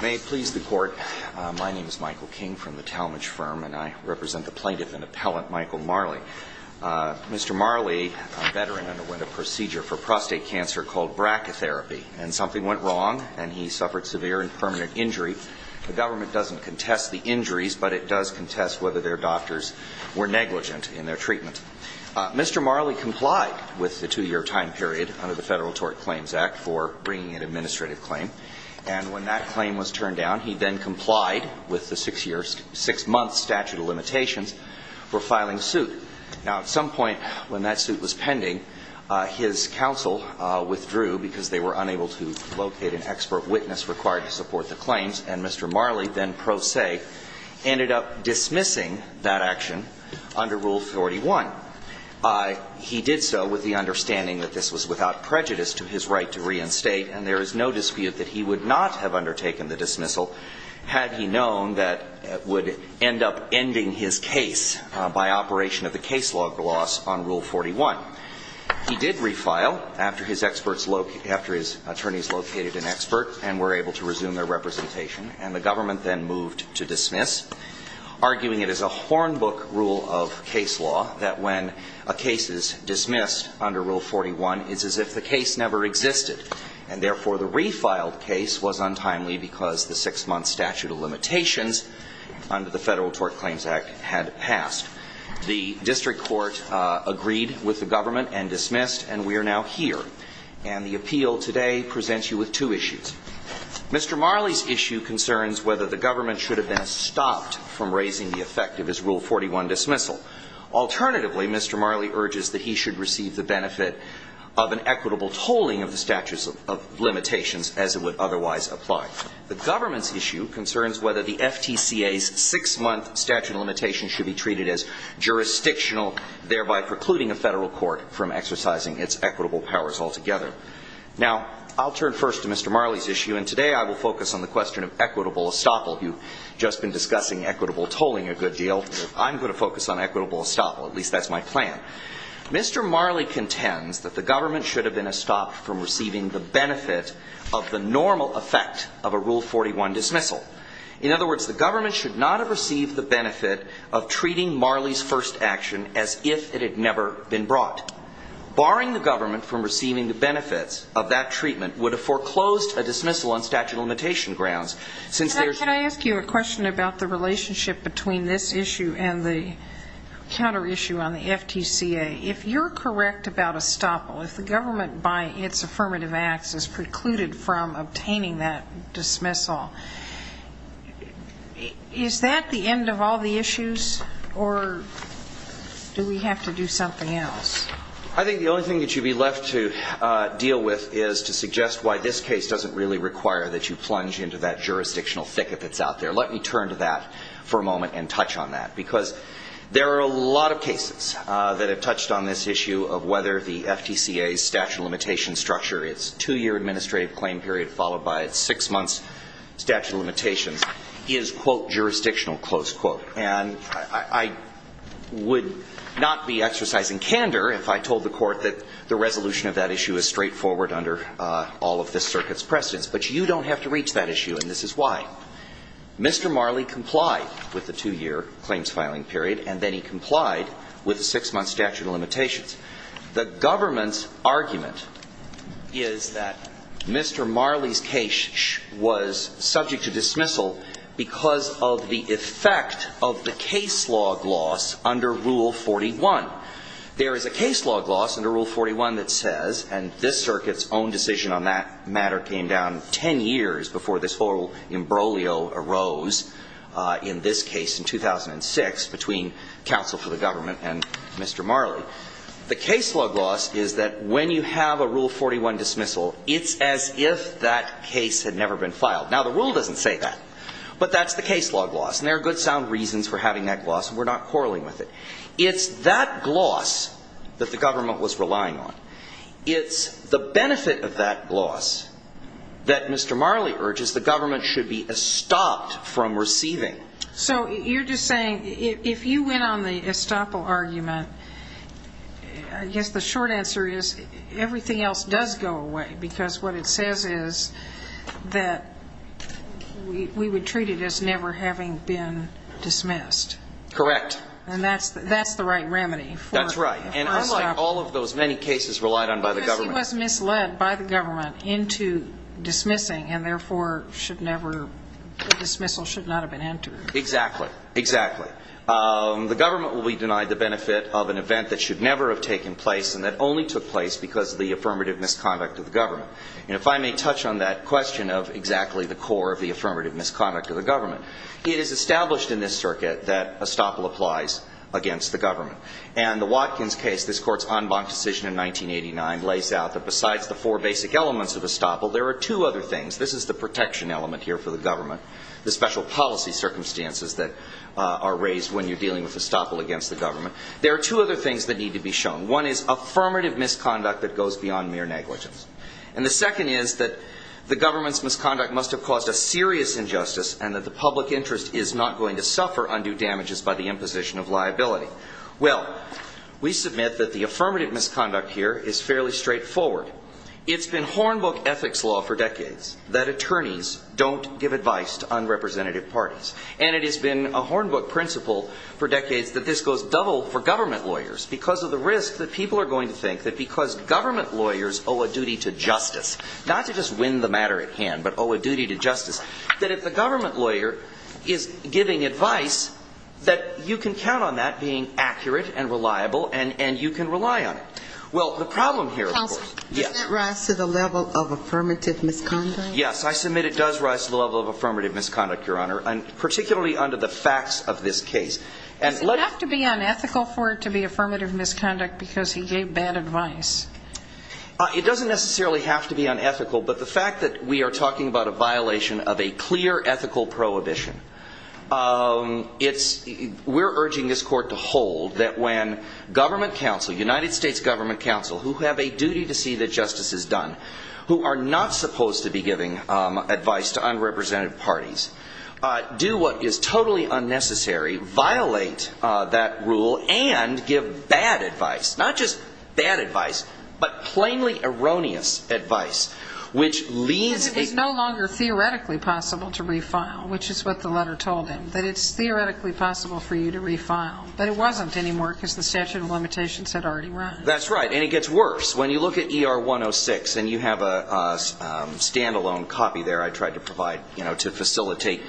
May it please the Court, my name is Michael King from the Talmadge Firm and I represent the plaintiff and appellant Michael Marley. Mr. Marley, a veteran, underwent a procedure for prostate cancer called brachytherapy and something went wrong and he suffered severe and permanent injury. The government doesn't contest the injuries, but it does contest whether their doctors were negligent in their treatment. Mr. Marley complied with the two-year time period under the Federal Tort Claims Act for bringing an administrative claim and when that claim was turned down, he then complied with the six-year, six-month statute of limitations for filing a suit. Now at some point when that suit was pending, his counsel withdrew because they were unable to locate an expert witness required to support the claims and Mr. Marley then pro se ended up dismissing that action under Rule 41. He did so with the understanding that this was without prejudice to his right to reinstate and there is no dispute that he would not have undertaken the dismissal had he known that it would end up ending his case by operation of the case log loss on Rule 41. He did refile after his attorneys located an expert and were able to resume their representation and the government then moved to dismiss, arguing it is a horn book rule of case law that when a case is dismissed under Rule 41, it's as if the case never existed and therefore the refiled case was untimely because the six-month statute of limitations under the Federal Tort Claims Act had passed. The district court agreed with the government and dismissed and we are now here. And the appeal today presents you with two issues. Mr. Marley's issue concerns whether the government should have been stopped from raising the effect of his Rule 41 dismissal. Alternatively, Mr. Marley urges that he should receive the benefit of an equitable tolling of the statute of limitations as it would otherwise apply. The government's issue concerns whether the FTCA's six-month statute of limitations should be treated as jurisdictional, thereby precluding a federal court from exercising its equitable powers altogether. Now, I'll turn first to Mr. Marley's issue and today I will focus on the question of equitable estoppel. You've just been discussing equitable tolling a good deal. I'm going to focus on equitable estoppel, at least that's my plan. Mr. Marley contends that the government should have been stopped from receiving the benefit of the normal effect of a Rule 41 dismissal. In other words, the government should not have received the benefit of treating Marley's first action as if it had never been brought. Barring the government from receiving the benefits of that treatment would have foreclosed a dismissal on statute of limitation grounds. Since there's Can I ask you a question about the relationship between this issue and the counter issue on the FTCA? If you're correct about estoppel, if the government by its affirmative acts is precluded from obtaining that dismissal, is that the end of all the issues or do we have to do something else? I think the only thing that should be left to deal with is to suggest why this case doesn't really require that you plunge into that jurisdictional thicket that's out there. Let me turn to that for a moment and touch on that because there are a lot of cases that have touched on this issue of whether the FTCA's statute of limitation structure is a two-year administrative claim period followed by its six-month statute of limitations is, quote, jurisdictional, close quote. And I would not be exercising candor if I told the Court that the resolution of that issue is straightforward under all of this circuit's precedents. But you don't have to reach that issue, and this is why. Mr. Marley complied with the two-year claims filing period, and then he complied with the six-month statute of limitations. The government's argument is that Mr. Marley's case was subject to dismissal because of the effect of the case log loss under Rule 41. There is a case log loss under Rule 41 that says, and this circuit's own decision on that matter came down 10 years before this whole imbroglio arose in this case in 2006 between counsel for the government and Mr. Marley. The case log loss is that when you have a Rule 41 dismissal, it's as if that case had never been filed. Now, the rule doesn't say that, but that's the case log loss, and there are good sound reasons for having that loss, and we're not quarreling with it. It's that gloss that the government was relying on. It's the benefit of that gloss that Mr. Marley urges the government should be estopped from receiving. So you're just saying if you went on the estoppel argument, I guess the short answer is everything else does go away because what it says is that we would treat it as never having been dismissed. Correct. And that's the right remedy for estoppel. That's right, and unlike all of those many cases relied on by the government. Because he was misled by the government into dismissing and therefore should never, the Exactly. Exactly. The government will be denied the benefit of an event that should never have taken place and that only took place because of the affirmative misconduct of the government. And if I may touch on that question of exactly the core of the affirmative misconduct of the government, it is established in this circuit that estoppel applies against the government. And the Watkins case, this Court's en banc decision in 1989, lays out that besides the four basic elements of estoppel, there are two other things. This is the protection element here for the government, the special policy circumstances that are raised when you're dealing with estoppel against the government. There are two other things that need to be shown. One is affirmative misconduct that goes beyond mere negligence. And the second is that the government's misconduct must have caused a serious injustice and that the public interest is not going to suffer undue damages by the imposition of liability. Well, we submit that the affirmative misconduct here is fairly straightforward. It's been to unrepresentative parties. And it has been a hornbook principle for decades that this goes double for government lawyers because of the risk that people are going to think that because government lawyers owe a duty to justice, not to just win the matter at hand, but owe a duty to justice, that if the government lawyer is giving advice, that you can count on that being accurate and reliable and you can rely on it. Well, the problem here, of course, yes, I submit it does rise to the level of affirmative misconduct, Your Honor, and particularly under the facts of this case. Does it have to be unethical for it to be affirmative misconduct because he gave bad advice? It doesn't necessarily have to be unethical. But the fact that we are talking about a violation of a clear ethical prohibition, we're urging this Court to hold that when government counsel, United States government counsel, who have a duty to see that justice is done, who are not supposed to be giving advice to unrepresentative parties, do what is totally unnecessary, violate that rule, and give bad advice, not just bad advice, but plainly erroneous advice, which leaves the judge... It's no longer theoretically possible to refile, which is what the letter told him, that it's theoretically possible for you to refile. But it wasn't anymore because the statute of limitations had already run. That's right. And it gets worse. When you look at ER 106, and you have a stand-alone copy there I tried to provide to facilitate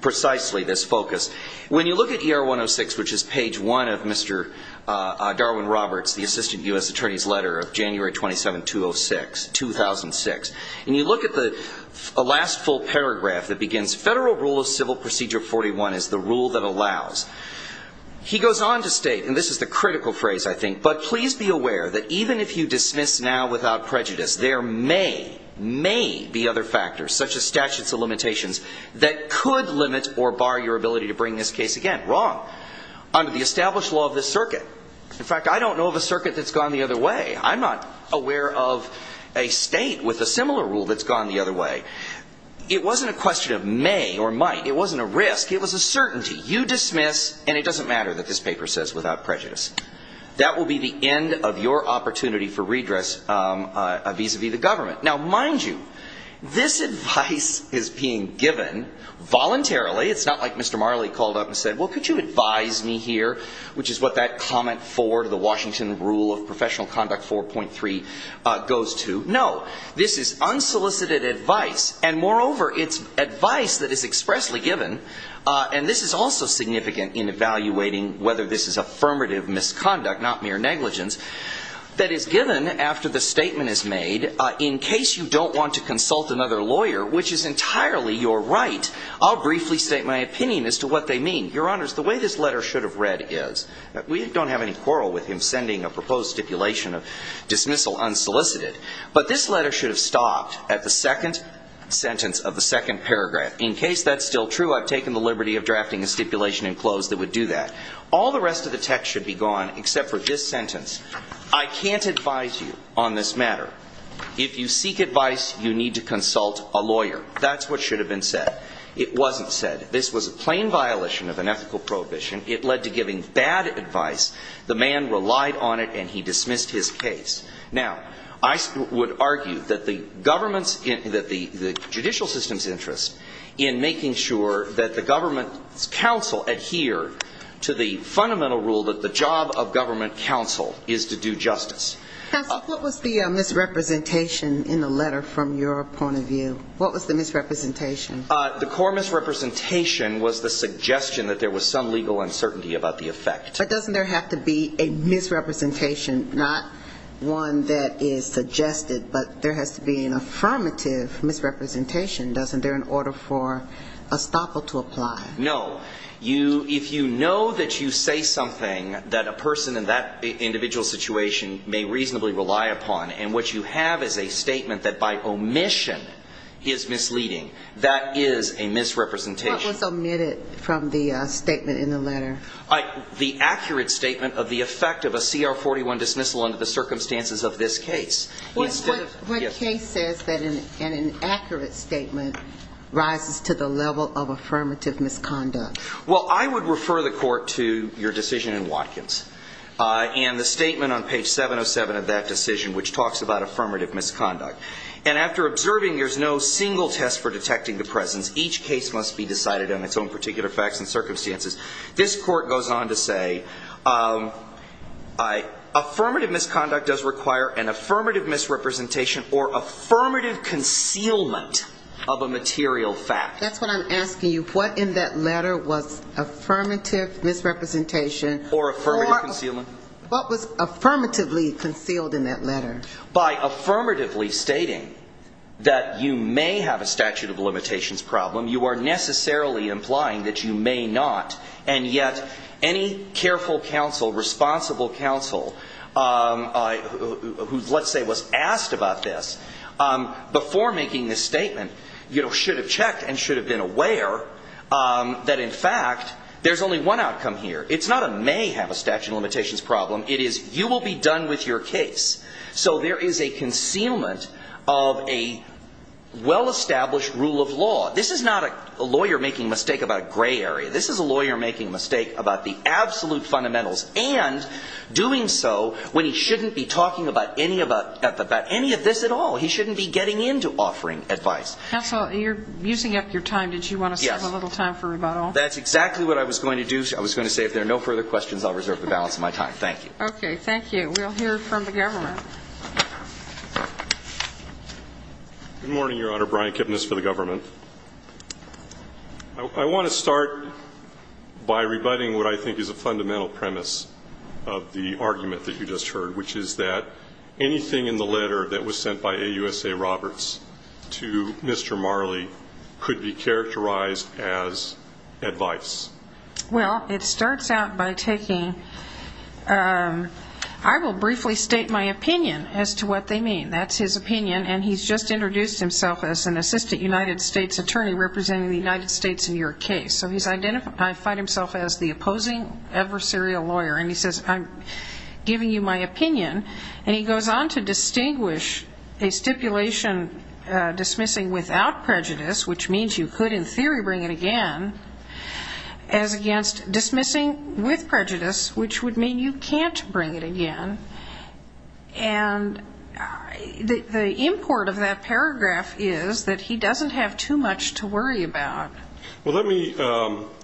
precisely this focus. When you look at ER 106, which is page one of Mr. Darwin Roberts, the Assistant U.S. Attorney's letter of January 27, 2006, and you look at the last full paragraph that begins, Federal Rule of Civil Procedure 41 is the rule that allows. He goes on to state, and this is the critical phrase I think, but please be aware that even if you dismiss now without prejudice, there may, may be other factors, such as statutes of limitations, that could limit or bar your ability to bring this case again. Wrong. Under the established law of this circuit, in fact I don't know of a circuit that's gone the other way. I'm not aware of a state with a similar rule that's gone the other way. It wasn't a question of may or might. It wasn't a risk. It was a certainty. You dismiss and it doesn't matter that this paper says without prejudice. That will be the end of your opportunity for redress vis-a-vis the government. Now, mind you, this advice is being given voluntarily. It's not like Mr. Marley called up and said, well, could you advise me here, which is what that comment for the Washington Rule of Professional Conduct 4.3 goes to. No. This is unsolicited advice, and moreover, it's advice that is expressly given, and this is also significant in evaluating whether this is affirmative misconduct, not mere negligence, that is given after the statement is made in case you don't want to consult another lawyer, which is entirely your right. I'll briefly state my opinion as to what they mean. Your Honors, the way this letter should have read is, we don't have any quarrel with him sending a proposed stipulation of dismissal unsolicited, but this letter should have stopped at the second sentence of the second paragraph. In case that's still true, I've taken the liberty of drafting a stipulation in close that would do that. All the rest of the text should be gone except for this sentence. I can't advise you on this matter. If you seek advice, you need to consult a lawyer. That's what should have been said. It wasn't said. This was a plain violation of an ethical prohibition. It led to giving bad advice. The man relied on it and he dismissed his case. Now, I would argue that the government's, that the judicial system's interest in making sure that the government's counsel adhere to the fundamental rule that the job of government counsel is to do justice. Counsel, what was the misrepresentation in the letter from your point of view? What was the misrepresentation? The core misrepresentation was the suggestion that there was some legal uncertainty about the effect. But doesn't there have to be a misrepresentation, not one that is suggested, but there has to be an affirmative misrepresentation, doesn't there, in order for estoppel to apply? No. You, if you know that you say something that a person in that individual situation may reasonably rely upon, and what you have is a statement that by omission is misleading, that is a misrepresentation. What was omitted from the statement in the letter? The accurate statement of the effect of a CR 41 dismissal under the circumstances of this case. What case says that an accurate statement rises to the level of affirmative misconduct? Well, I would refer the Court to your decision in Watkins, and the statement on page 707 of that decision, which talks about affirmative misconduct. And after observing, there's no single test for detecting the presence. Each case must be decided on its own particular facts and circumstances. This Court goes on to say, affirmative misconduct does require an affirmative misrepresentation or affirmative concealment of a material fact. That's what I'm asking you. What in that letter was affirmative misrepresentation? Or affirmative concealment. What was affirmatively concealed in that letter? By affirmatively stating that you may have a statute of limitations problem, you are necessarily implying that you may not. And yet, any careful counsel, responsible counsel, who let's say was asked about this, before making this statement, you know, should have checked and should have been aware that in fact, there's only one outcome here. It's not a may have a statute of limitations problem. It is you will be done with your case. So there is a concealment of a well-established rule of law. This is not a lawyer making a mistake about a gray area. This is a lawyer making a mistake about the absolute fundamentals and doing so when he shouldn't be talking about any of this at all. He shouldn't be getting into offering advice. Counsel, you're using up your time. Did you want to save a little time for rebuttal? That's exactly what I was going to do. I was going to say if there are no further questions, I'll reserve the balance of my time. Thank you. Okay. Thank you. We'll hear from the government. Good morning, Your Honor. Brian Kipnis for the government. I want to start by rebutting what I think is a fundamental premise of the argument that you just heard, which is that anything in the letter that was sent by AUSA Roberts to Mr. Marley could be characterized as advice. Well, it starts out by taking, I will briefly state my opinion as to what they mean. That's his opinion, and he's just introduced himself as an assistant United States attorney representing the United States in your case. So he's identified himself as the opposing adversarial lawyer. And he says, I'm giving you my opinion. And he goes on to distinguish a stipulation dismissing without prejudice, which means you could in theory bring it again, as against dismissing with prejudice, which would mean you can't bring it again. And the import of that paragraph is that he doesn't have too much to worry about. Well, let me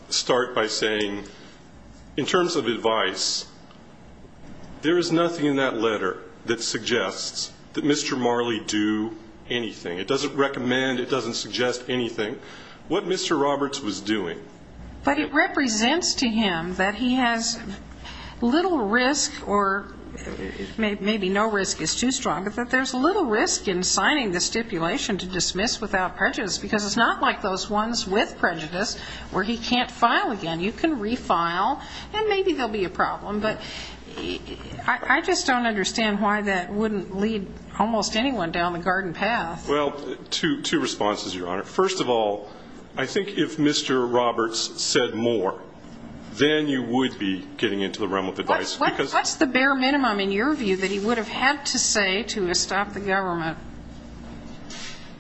start by saying in terms of advice, there is nothing in that letter that suggests that Mr. Marley do anything. It doesn't recommend, it doesn't suggest anything. What Mr. Roberts was doing. But it represents to him that he has little risk or maybe no risk is too strong, but that there's little risk in signing the stipulation to dismiss without prejudice, because it's not like those ones with prejudice where he can't file again. You can refile, and maybe there'll be a problem. But I just don't understand why that wouldn't lead almost anyone down the garden path. Well, two responses, Your Honor. First of all, I think if Mr. Roberts said more, then you would be getting into the realm of advice. What's the bare minimum in your view that he would have had to say to stop the government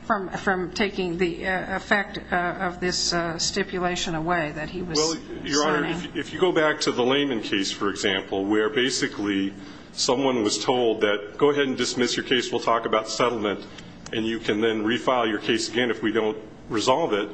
from taking the effect of this stipulation away that he was signing? Well, Your Honor, if you go back to the Lehman case, for example, where basically someone was told that go ahead and dismiss your case, we'll talk about settlement, and you can then refile your case again if we don't resolve it,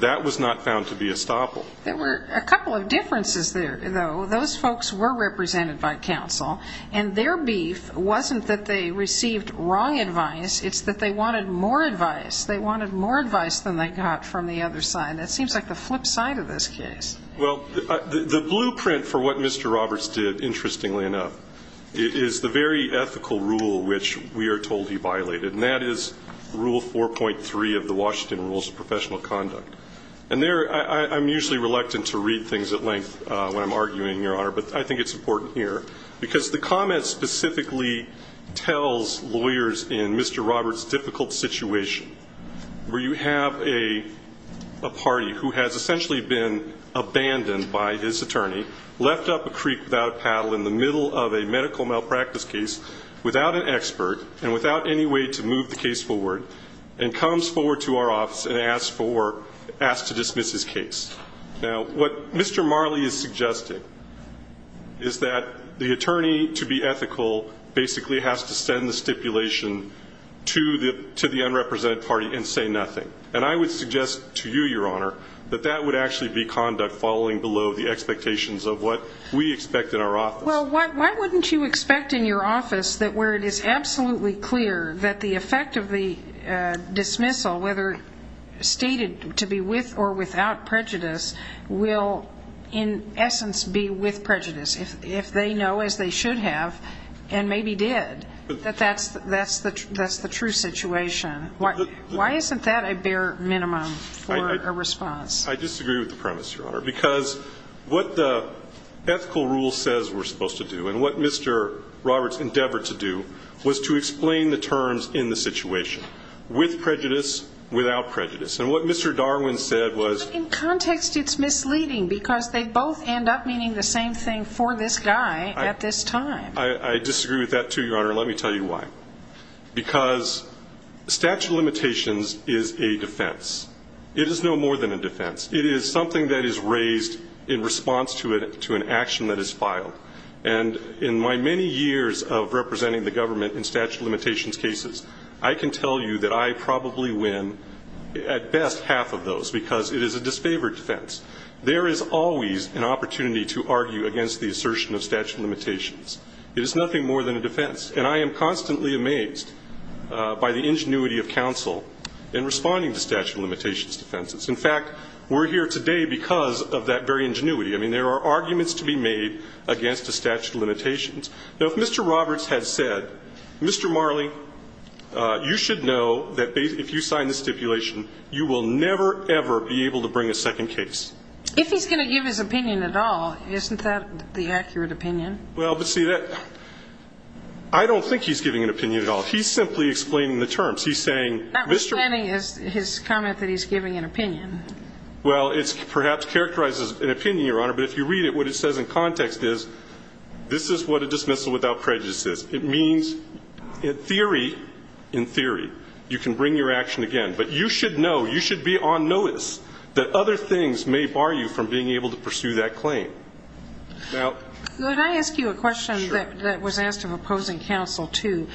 that was not found to be a stopple. There were a couple of differences there, though. Those folks were represented by counsel, and their beef wasn't that they received wrong advice, it's that they wanted more advice. They wanted more advice than they got from the other side. That seems like the flip side of this case. Well, the blueprint for what Mr. Roberts did, interestingly enough, is the very ethical rule which we are told he violated, and that is Rule 4.3 of the Washington Rules of Professional Conduct. And there, I'm usually reluctant to read things at length when I'm arguing, Your Honor, but I think it's important here, because the comment specifically tells lawyers in Mr. Roberts' difficult situation, where you have a party who has essentially been abandoned by his attorney, left up a creek without a paddle in the middle of a medical malpractice case, without an expert, and without any way to move the case forward, and comes forward to our office and asks to dismiss his case. Now, what Mr. Marley is suggesting is that the attorney, to be ethical, basically has to send the stipulation to the unrepresented party and say nothing. And I would suggest to you, Your Honor, that that would actually be conduct falling below the expectations of what we expect in our office. Well, why wouldn't you expect in your office that where it is absolutely clear that the effect of the dismissal, whether stated to be with or without prejudice, will in essence be with prejudice, if they know, as they should have and maybe did, that that's the true situation? Why isn't that a bare minimum for a response? I disagree with the premise, Your Honor, because what the ethical rule says we're supposed to do, and what Mr. Roberts endeavored to do, was to explain the terms in the situation, with prejudice, without prejudice. And what Mr. Darwin said was In context, it's misleading, because they both end up meaning the same thing for this guy at this time. I disagree with that, too, Your Honor, and let me tell you why. Because statute of limitations is a defense. It is no more than a defense. It is something that is raised in response to an action that is filed. And in my many years of representing the government in statute of limitations cases, I can tell you that I probably win, at best, half of those, because it is a disfavored defense. There is always an opportunity to argue against the assertion of statute of limitations. It is nothing more than a defense. And I am constantly amazed by the ingenuity of counsel in responding to statute of limitations defenses. In fact, we're here today because of that very ingenuity. I mean, there are arguments to be made against a statute of limitations. Now, if Mr. Roberts had said, Mr. Marley, you should know that if you sign the stipulation, you will never, ever be able to bring a second case. If he's going to give his opinion at all, isn't that the accurate opinion? Well, but see, that – I don't think he's giving an opinion at all. He's simply explaining the terms. He's saying, Mr. – Notwithstanding his comment that he's giving an opinion. Well, it perhaps characterizes an opinion, Your Honor, but if you read it, what it says in context is, this is what a dismissal without prejudice is. It means, in theory, you can bring your action again. But you should know, you should be on notice, that other things may bar you from being able to pursue that claim. Now – Could I ask you a question that was asked of opposing counsel, too?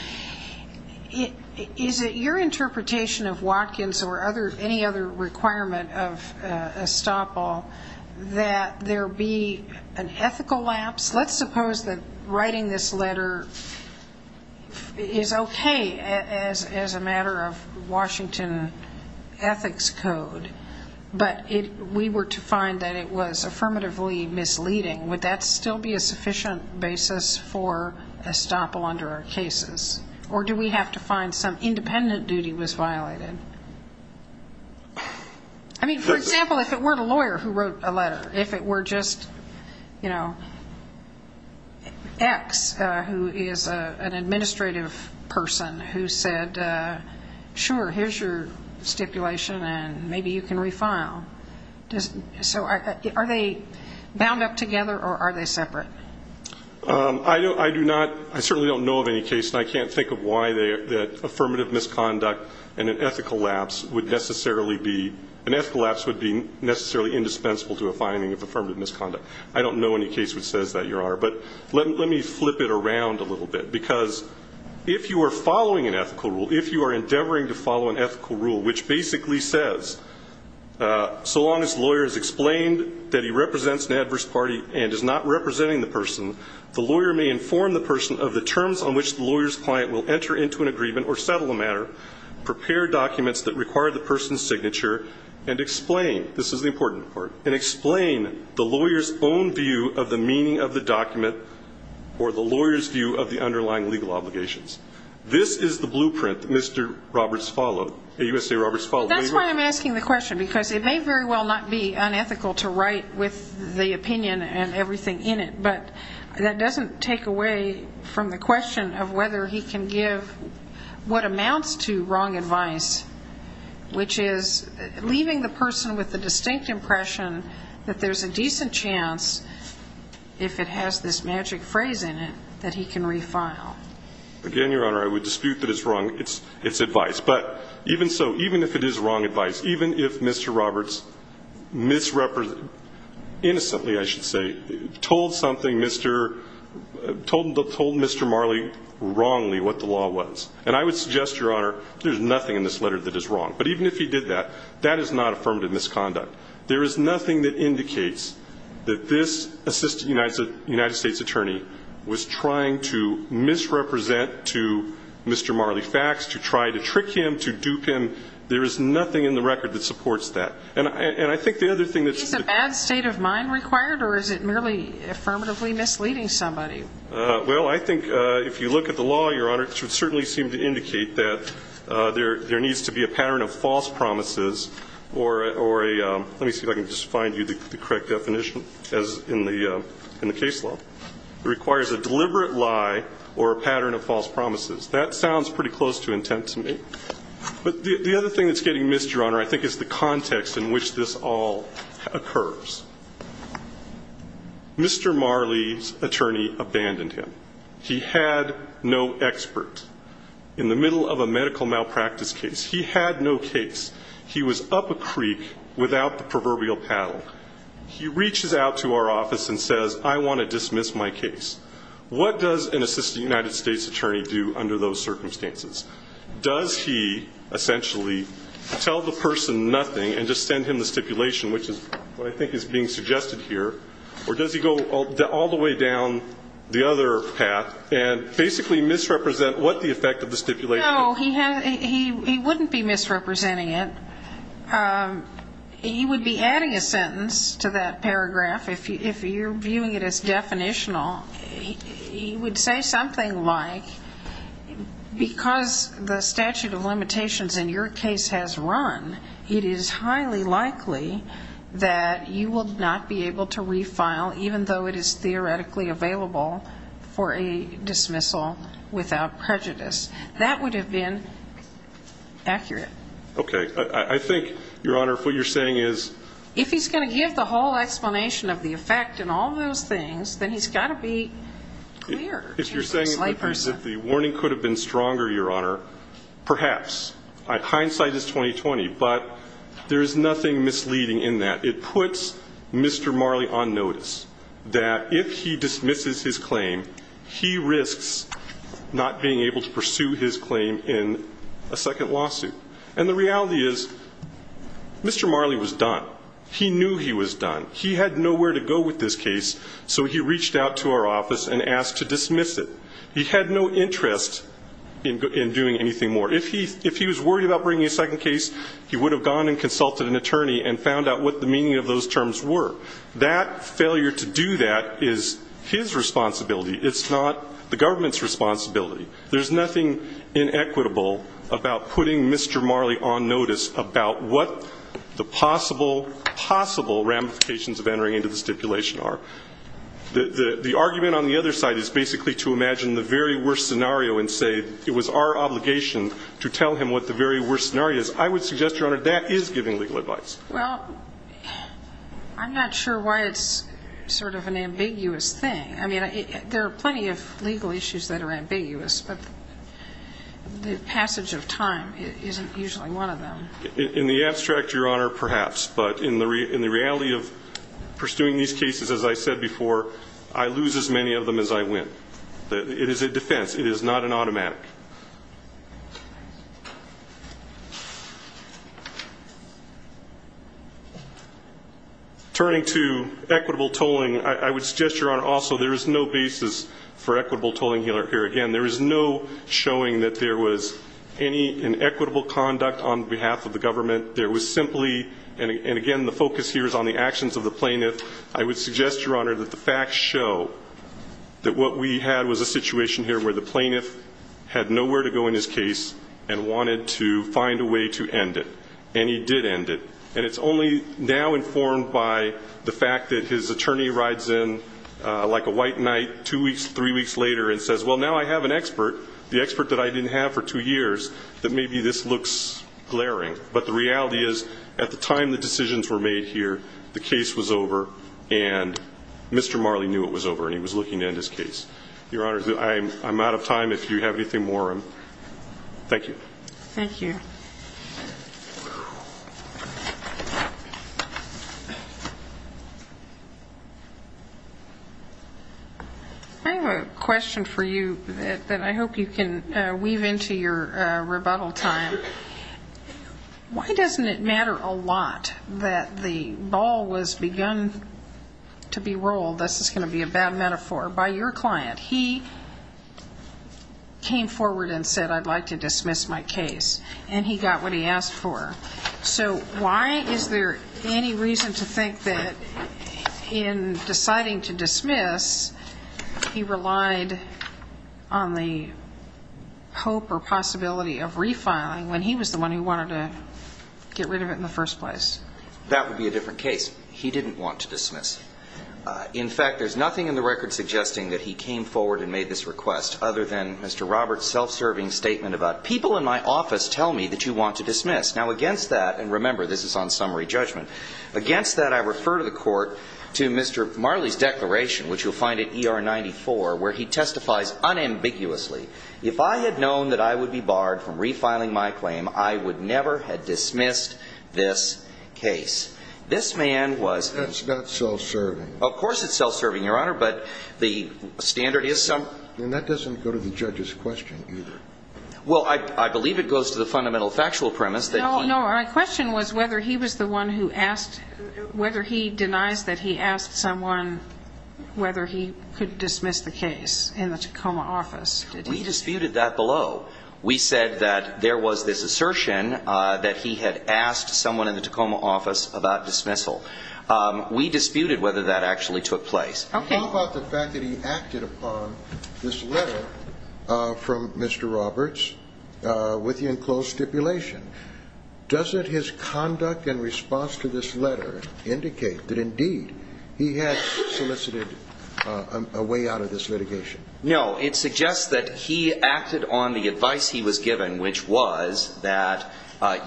Is it your interpretation of Watkins or any other requirement of estoppel that there be an ethical lapse? Let's suppose that writing this letter is okay as a matter of Washington Ethics Code, but we were to find that it was affirmatively misleading. Would that still be a sufficient basis for estoppel under our cases? Or do we have to find some independent duty was violated? I mean, for example, if it weren't a lawyer who wrote a letter, if it were just, you know, X, who is an administrative person, who said, sure, here's your stipulation, and maybe you can refile. So are they bound up together, or are they separate? I do not – I certainly don't know of any case, and I can't think of why that affirmative misconduct and an ethical lapse would necessarily be – an ethical lapse would be necessarily indispensable to a finding of affirmative misconduct. I don't know any case which says that, Your Honor. But let me flip it around a little bit, because if you are following an ethical rule, if you are endeavoring to follow an ethical rule which basically says, so long as the lawyer has explained that he represents an adverse party and is not representing the person, the lawyer may inform the person of the terms on which the lawyer's client will enter into an agreement or settle a matter, prepare documents that require the person's signature, and explain – this is the important part – and explain the lawyer's own view of the meaning of the document or the lawyer's view of the underlying legal obligations. This is the blueprint that Mr. Roberts followed, that USA Roberts followed. Well, that's why I'm asking the question, because it may very well not be unethical to write with the opinion and everything in it, but that doesn't take away from the question of whether he can give what amounts to wrong advice, which is leaving the person with the distinct impression that there's a decent chance, if it has this magic phrase in it, that he can refile. Again, Your Honor, I would dispute that it's wrong – it's advice. But even so, even if it is wrong advice, even if Mr. Roberts misrepres – innocently, I should say – told something Mr. – told Mr. Marley wrongly what the law was. And I would suggest, Your Honor, there's nothing in this letter that is wrong. But even if he did that, that is not affirmative misconduct. There is nothing that indicates that this Assistant United States Attorney was trying to misrepresent to Mr. Marley Fax, to try to trick him, to dupe him. There is nothing in the record that supports that. And I think the other thing that's – Is a bad state of mind required, or is it merely affirmatively misleading somebody? Well, I think if you look at the law, Your Honor, it would certainly seem to indicate that there needs to be a pattern of false promises or a – let me see if I can just find you the correct definition as in the – in the case law. It requires a deliberate lie or a pattern of false promises. That sounds pretty close to intent to me. But the other thing that's getting missed, Your Honor, I think is the context in which this all occurs. Mr. Marley's attorney abandoned him. He had no expert. In the middle of a medical malpractice case, he had no case. He was up a creek without the proverbial paddle. He reaches out to our office and says, I want to dismiss my case. What does an Assistant United States Attorney do under those circumstances? Does he essentially tell the person nothing and just send him the stipulation, which is what I think is being suggested here? Or does he go all the way down the other path and basically misrepresent what the effect of the stipulation is? No, he wouldn't be misrepresenting it. He would be adding a sentence to that paragraph. If you're viewing it as definitional, he would say something like, because the statute of limitations in your case has run, it is highly likely that you will not be able to refile, even though it is theoretically available for a dismissal without prejudice. That would have been accurate. Okay. I think, Your Honor, what you're saying is... If he's going to give the whole explanation of the effect and all those things, then he's got to be clear to his layperson. If the warning could have been stronger, Your Honor, perhaps. Hindsight is 20-20. But there is nothing misleading in that. It puts Mr. Marley on notice that if he dismisses his claim, he risks not being able to pursue his claim in a second lawsuit. And the reality is, Mr. Marley was done. He knew he was done. He had nowhere to go with this case, so he had no interest in doing anything more. If he was worried about bringing a second case, he would have gone and consulted an attorney and found out what the meaning of those terms were. That failure to do that is his responsibility. It's not the government's responsibility. There's nothing inequitable about putting Mr. Marley on notice about what the possible, possible ramifications of entering into the stipulation are. The argument on the other side is basically to imagine the very worst scenario and say it was our obligation to tell him what the very worst scenario is. I would suggest, Your Honor, that is giving legal advice. Well, I'm not sure why it's sort of an ambiguous thing. I mean, there are plenty of legal issues that are ambiguous, but the passage of time isn't usually one of them. In the abstract, Your Honor, perhaps. But in the reality of pursuing these cases, as I said before, I lose as many of them as I win. It is a defense. It is not an automatic. Turning to equitable tolling, I would suggest, Your Honor, also there is no basis for equitable tolling here. Again, there is no showing that there was any inequitable conduct on behalf of the government. There was simply, and again the focus here is on the actions of the plaintiff. I would suggest, Your Honor, that the facts show that what we had was a situation here where the plaintiff had nowhere to go in his case and wanted to find a way to end it. And he did end it. And it's only now informed by the fact that his attorney rides in like a white knight two weeks, three weeks later and says, well, now I have an expert, the expert that I didn't have for two years, that maybe this looks glaring. But the reality is at the time the decisions were made here, the case was over and Mr. Marley knew it was over and he was looking to end his case. Your Honor, I'm out of time. If you have anything more, thank you. Thank you. I have a question for you that I hope you can weave into your rebuttal time. Why doesn't it matter a lot that the ball was begun to be rolled, this is going to be a bad metaphor, by your client? He came forward and said, I'd like to dismiss my case. And he got what he asked for. So why is there any reason to think that in deciding to dismiss, he relied on the hope or possibility of refiling when he was the one who wanted to get rid of it in the first place? That would be a different case. He didn't want to dismiss. In fact, there's nothing in the record suggesting that he came forward and made this request other than Mr. Roberts' self-serving statement about people in my office tell me that you want to dismiss. Now, against that, and remember, this is on summary judgment, against that I refer to the court to Mr. Marley's declaration, which you'll find at ER 94, where he testifies unambiguously, if I had known that I would not be barred from refiling my claim, I would never have dismissed this case. This man was – That's not self-serving. Of course it's self-serving, Your Honor, but the standard is some – And that doesn't go to the judge's question either. Well, I believe it goes to the fundamental factual premise that he – No, no. Our question was whether he was the one who asked – whether he denies that he asked someone whether he could dismiss the case in the Tacoma office. We disputed that below. We said that there was this assertion that he had asked someone in the Tacoma office about dismissal. We disputed whether that actually took place. Okay. How about the fact that he acted upon this letter from Mr. Roberts with the enclosed stipulation? Doesn't his conduct and response to this letter indicate that, indeed, he had solicited a way out of this litigation? No. It suggests that he acted on the advice he was given, which was that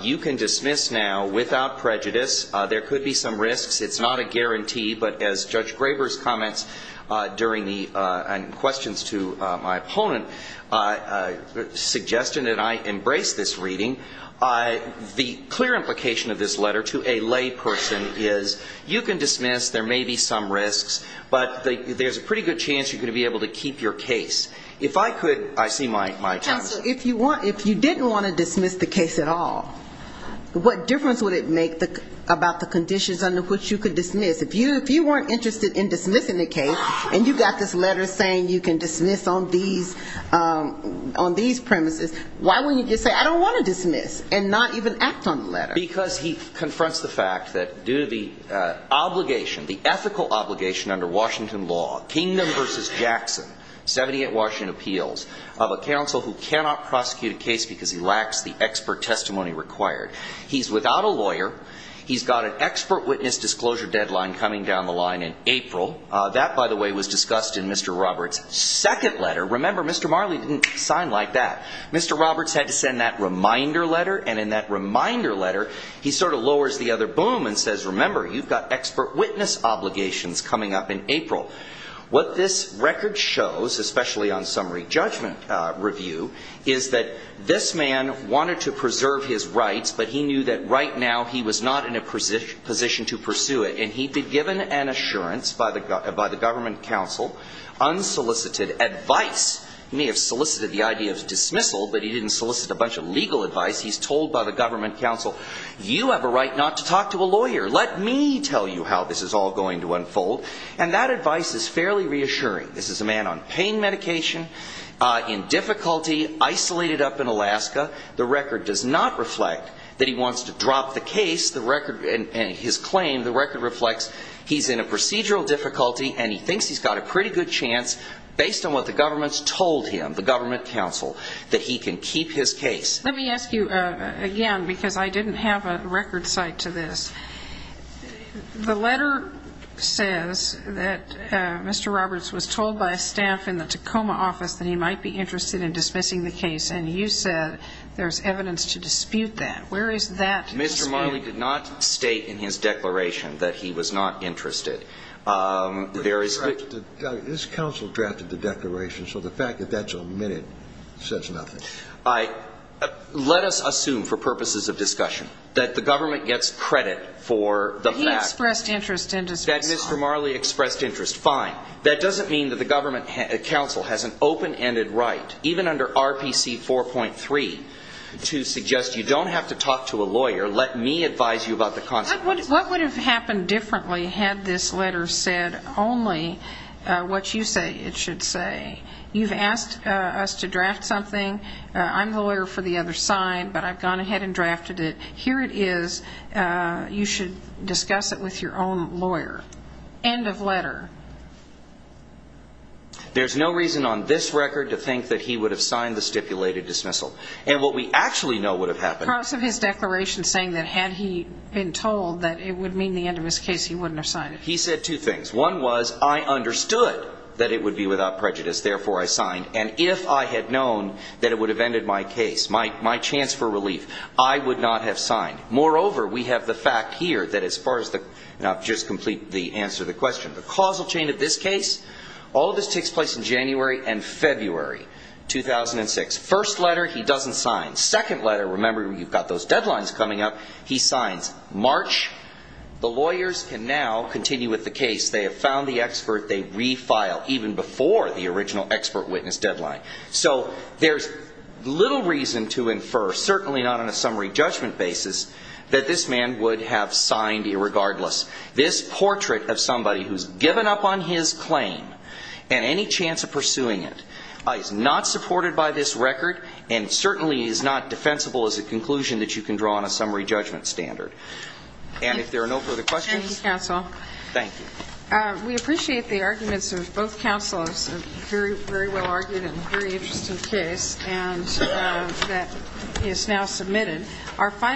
you can dismiss now without prejudice. There could be some risks. It's not a guarantee. But as Judge Graber's comments during the – and questions to my opponent suggested, and I embrace this reading, the clear implication of this letter to a lay person is you can dismiss. There may be some risks. But there's a pretty good chance you're going to be able to keep your case. If I could – I see my time's up. Counsel, if you didn't want to dismiss the case at all, what difference would it make about the conditions under which you could dismiss? If you weren't interested in dismissing the case and you got this letter saying you can dismiss on these premises, why wouldn't you just say, I don't want to dismiss and not even act on the letter? Because he confronts the fact that due to the obligation, the ethical obligation under Washington law, Kingdom v. Jackson, 78 Washington Appeals, of a counsel who cannot prosecute a case because he lacks the expert testimony required. He's without a lawyer. He's got an expert witness disclosure deadline coming down the line in April. That, by the way, was discussed in Mr. Roberts' second letter. Remember, Mr. Marley didn't sign like that. Mr. Roberts had to send that reminder letter. And in that reminder letter, he sort of lowers the other boom and says, remember, you've got expert witness obligations coming up in April. What this record shows, especially on summary judgment review, is that this man wanted to preserve his rights, but he knew that right now he was not in a position to pursue it. And he'd been given an assurance by the government counsel, unsolicited advice. He may have solicited the idea of dismissal, but he didn't solicit a bunch of legal advice. He's told by the government counsel, you have a lawyer. Let me tell you how this is all going to unfold. And that advice is fairly reassuring. This is a man on pain medication, in difficulty, isolated up in Alaska. The record does not reflect that he wants to drop the case. The record and his claim, the record reflects he's in a procedural difficulty and he thinks he's got a pretty good chance, based on what the government's told him, the government counsel, that he can keep his case. Let me ask you again, because I didn't have a record cite to this. The letter says that Mr. Roberts was told by a staff in the Tacoma office that he might be interested in dismissing the case. And you said there's evidence to dispute that. Where is that? Mr. Marley did not state in his declaration that he was not interested. This counsel drafted the declaration, so the fact that that's omitted says nothing. Let us assume, for purposes of discussion, that the government gets credit for the fact that Mr. Marley expressed interest. Fine. That doesn't mean that the government counsel has an open-ended right, even under RPC 4.3, to suggest you don't have to talk to a lawyer. Let me advise you about the consequences. What would have happened differently had this letter said only what you say it is, you should discuss it with your own lawyer. End of letter. There's no reason on this record to think that he would have signed the stipulated dismissal. And what we actually know would have happened. Parts of his declaration saying that had he been told that it would mean the end of his case, he wouldn't have signed it. He said two things. One was, I understood that it would be without prejudice, prejudice, I would have signed it. My chance for relief. I would not have signed. Moreover, we have the fact here that as far as the, I'll just complete the answer to the question. The causal chain of this case, all of this takes place in January and February 2006. First letter, he doesn't sign. Second letter, remember, you've got those deadlines coming up, he signs. March, the lawyers can now continue with the case. They have found the expert, they refile, even before the original expert have signed it. There's little reason to infer, certainly not on a summary judgment basis, that this man would have signed irregardless. This portrait of somebody who's given up on his claim and any chance of pursuing it is not supported by this record and certainly is not defensible as a conclusion that you can draw on a summary judgment standard. And if there are no further questions. Thank you, counsel. Thank you. We appreciate the arguments of both counselors. Very, very well argued and a very interesting case and that is now submitted.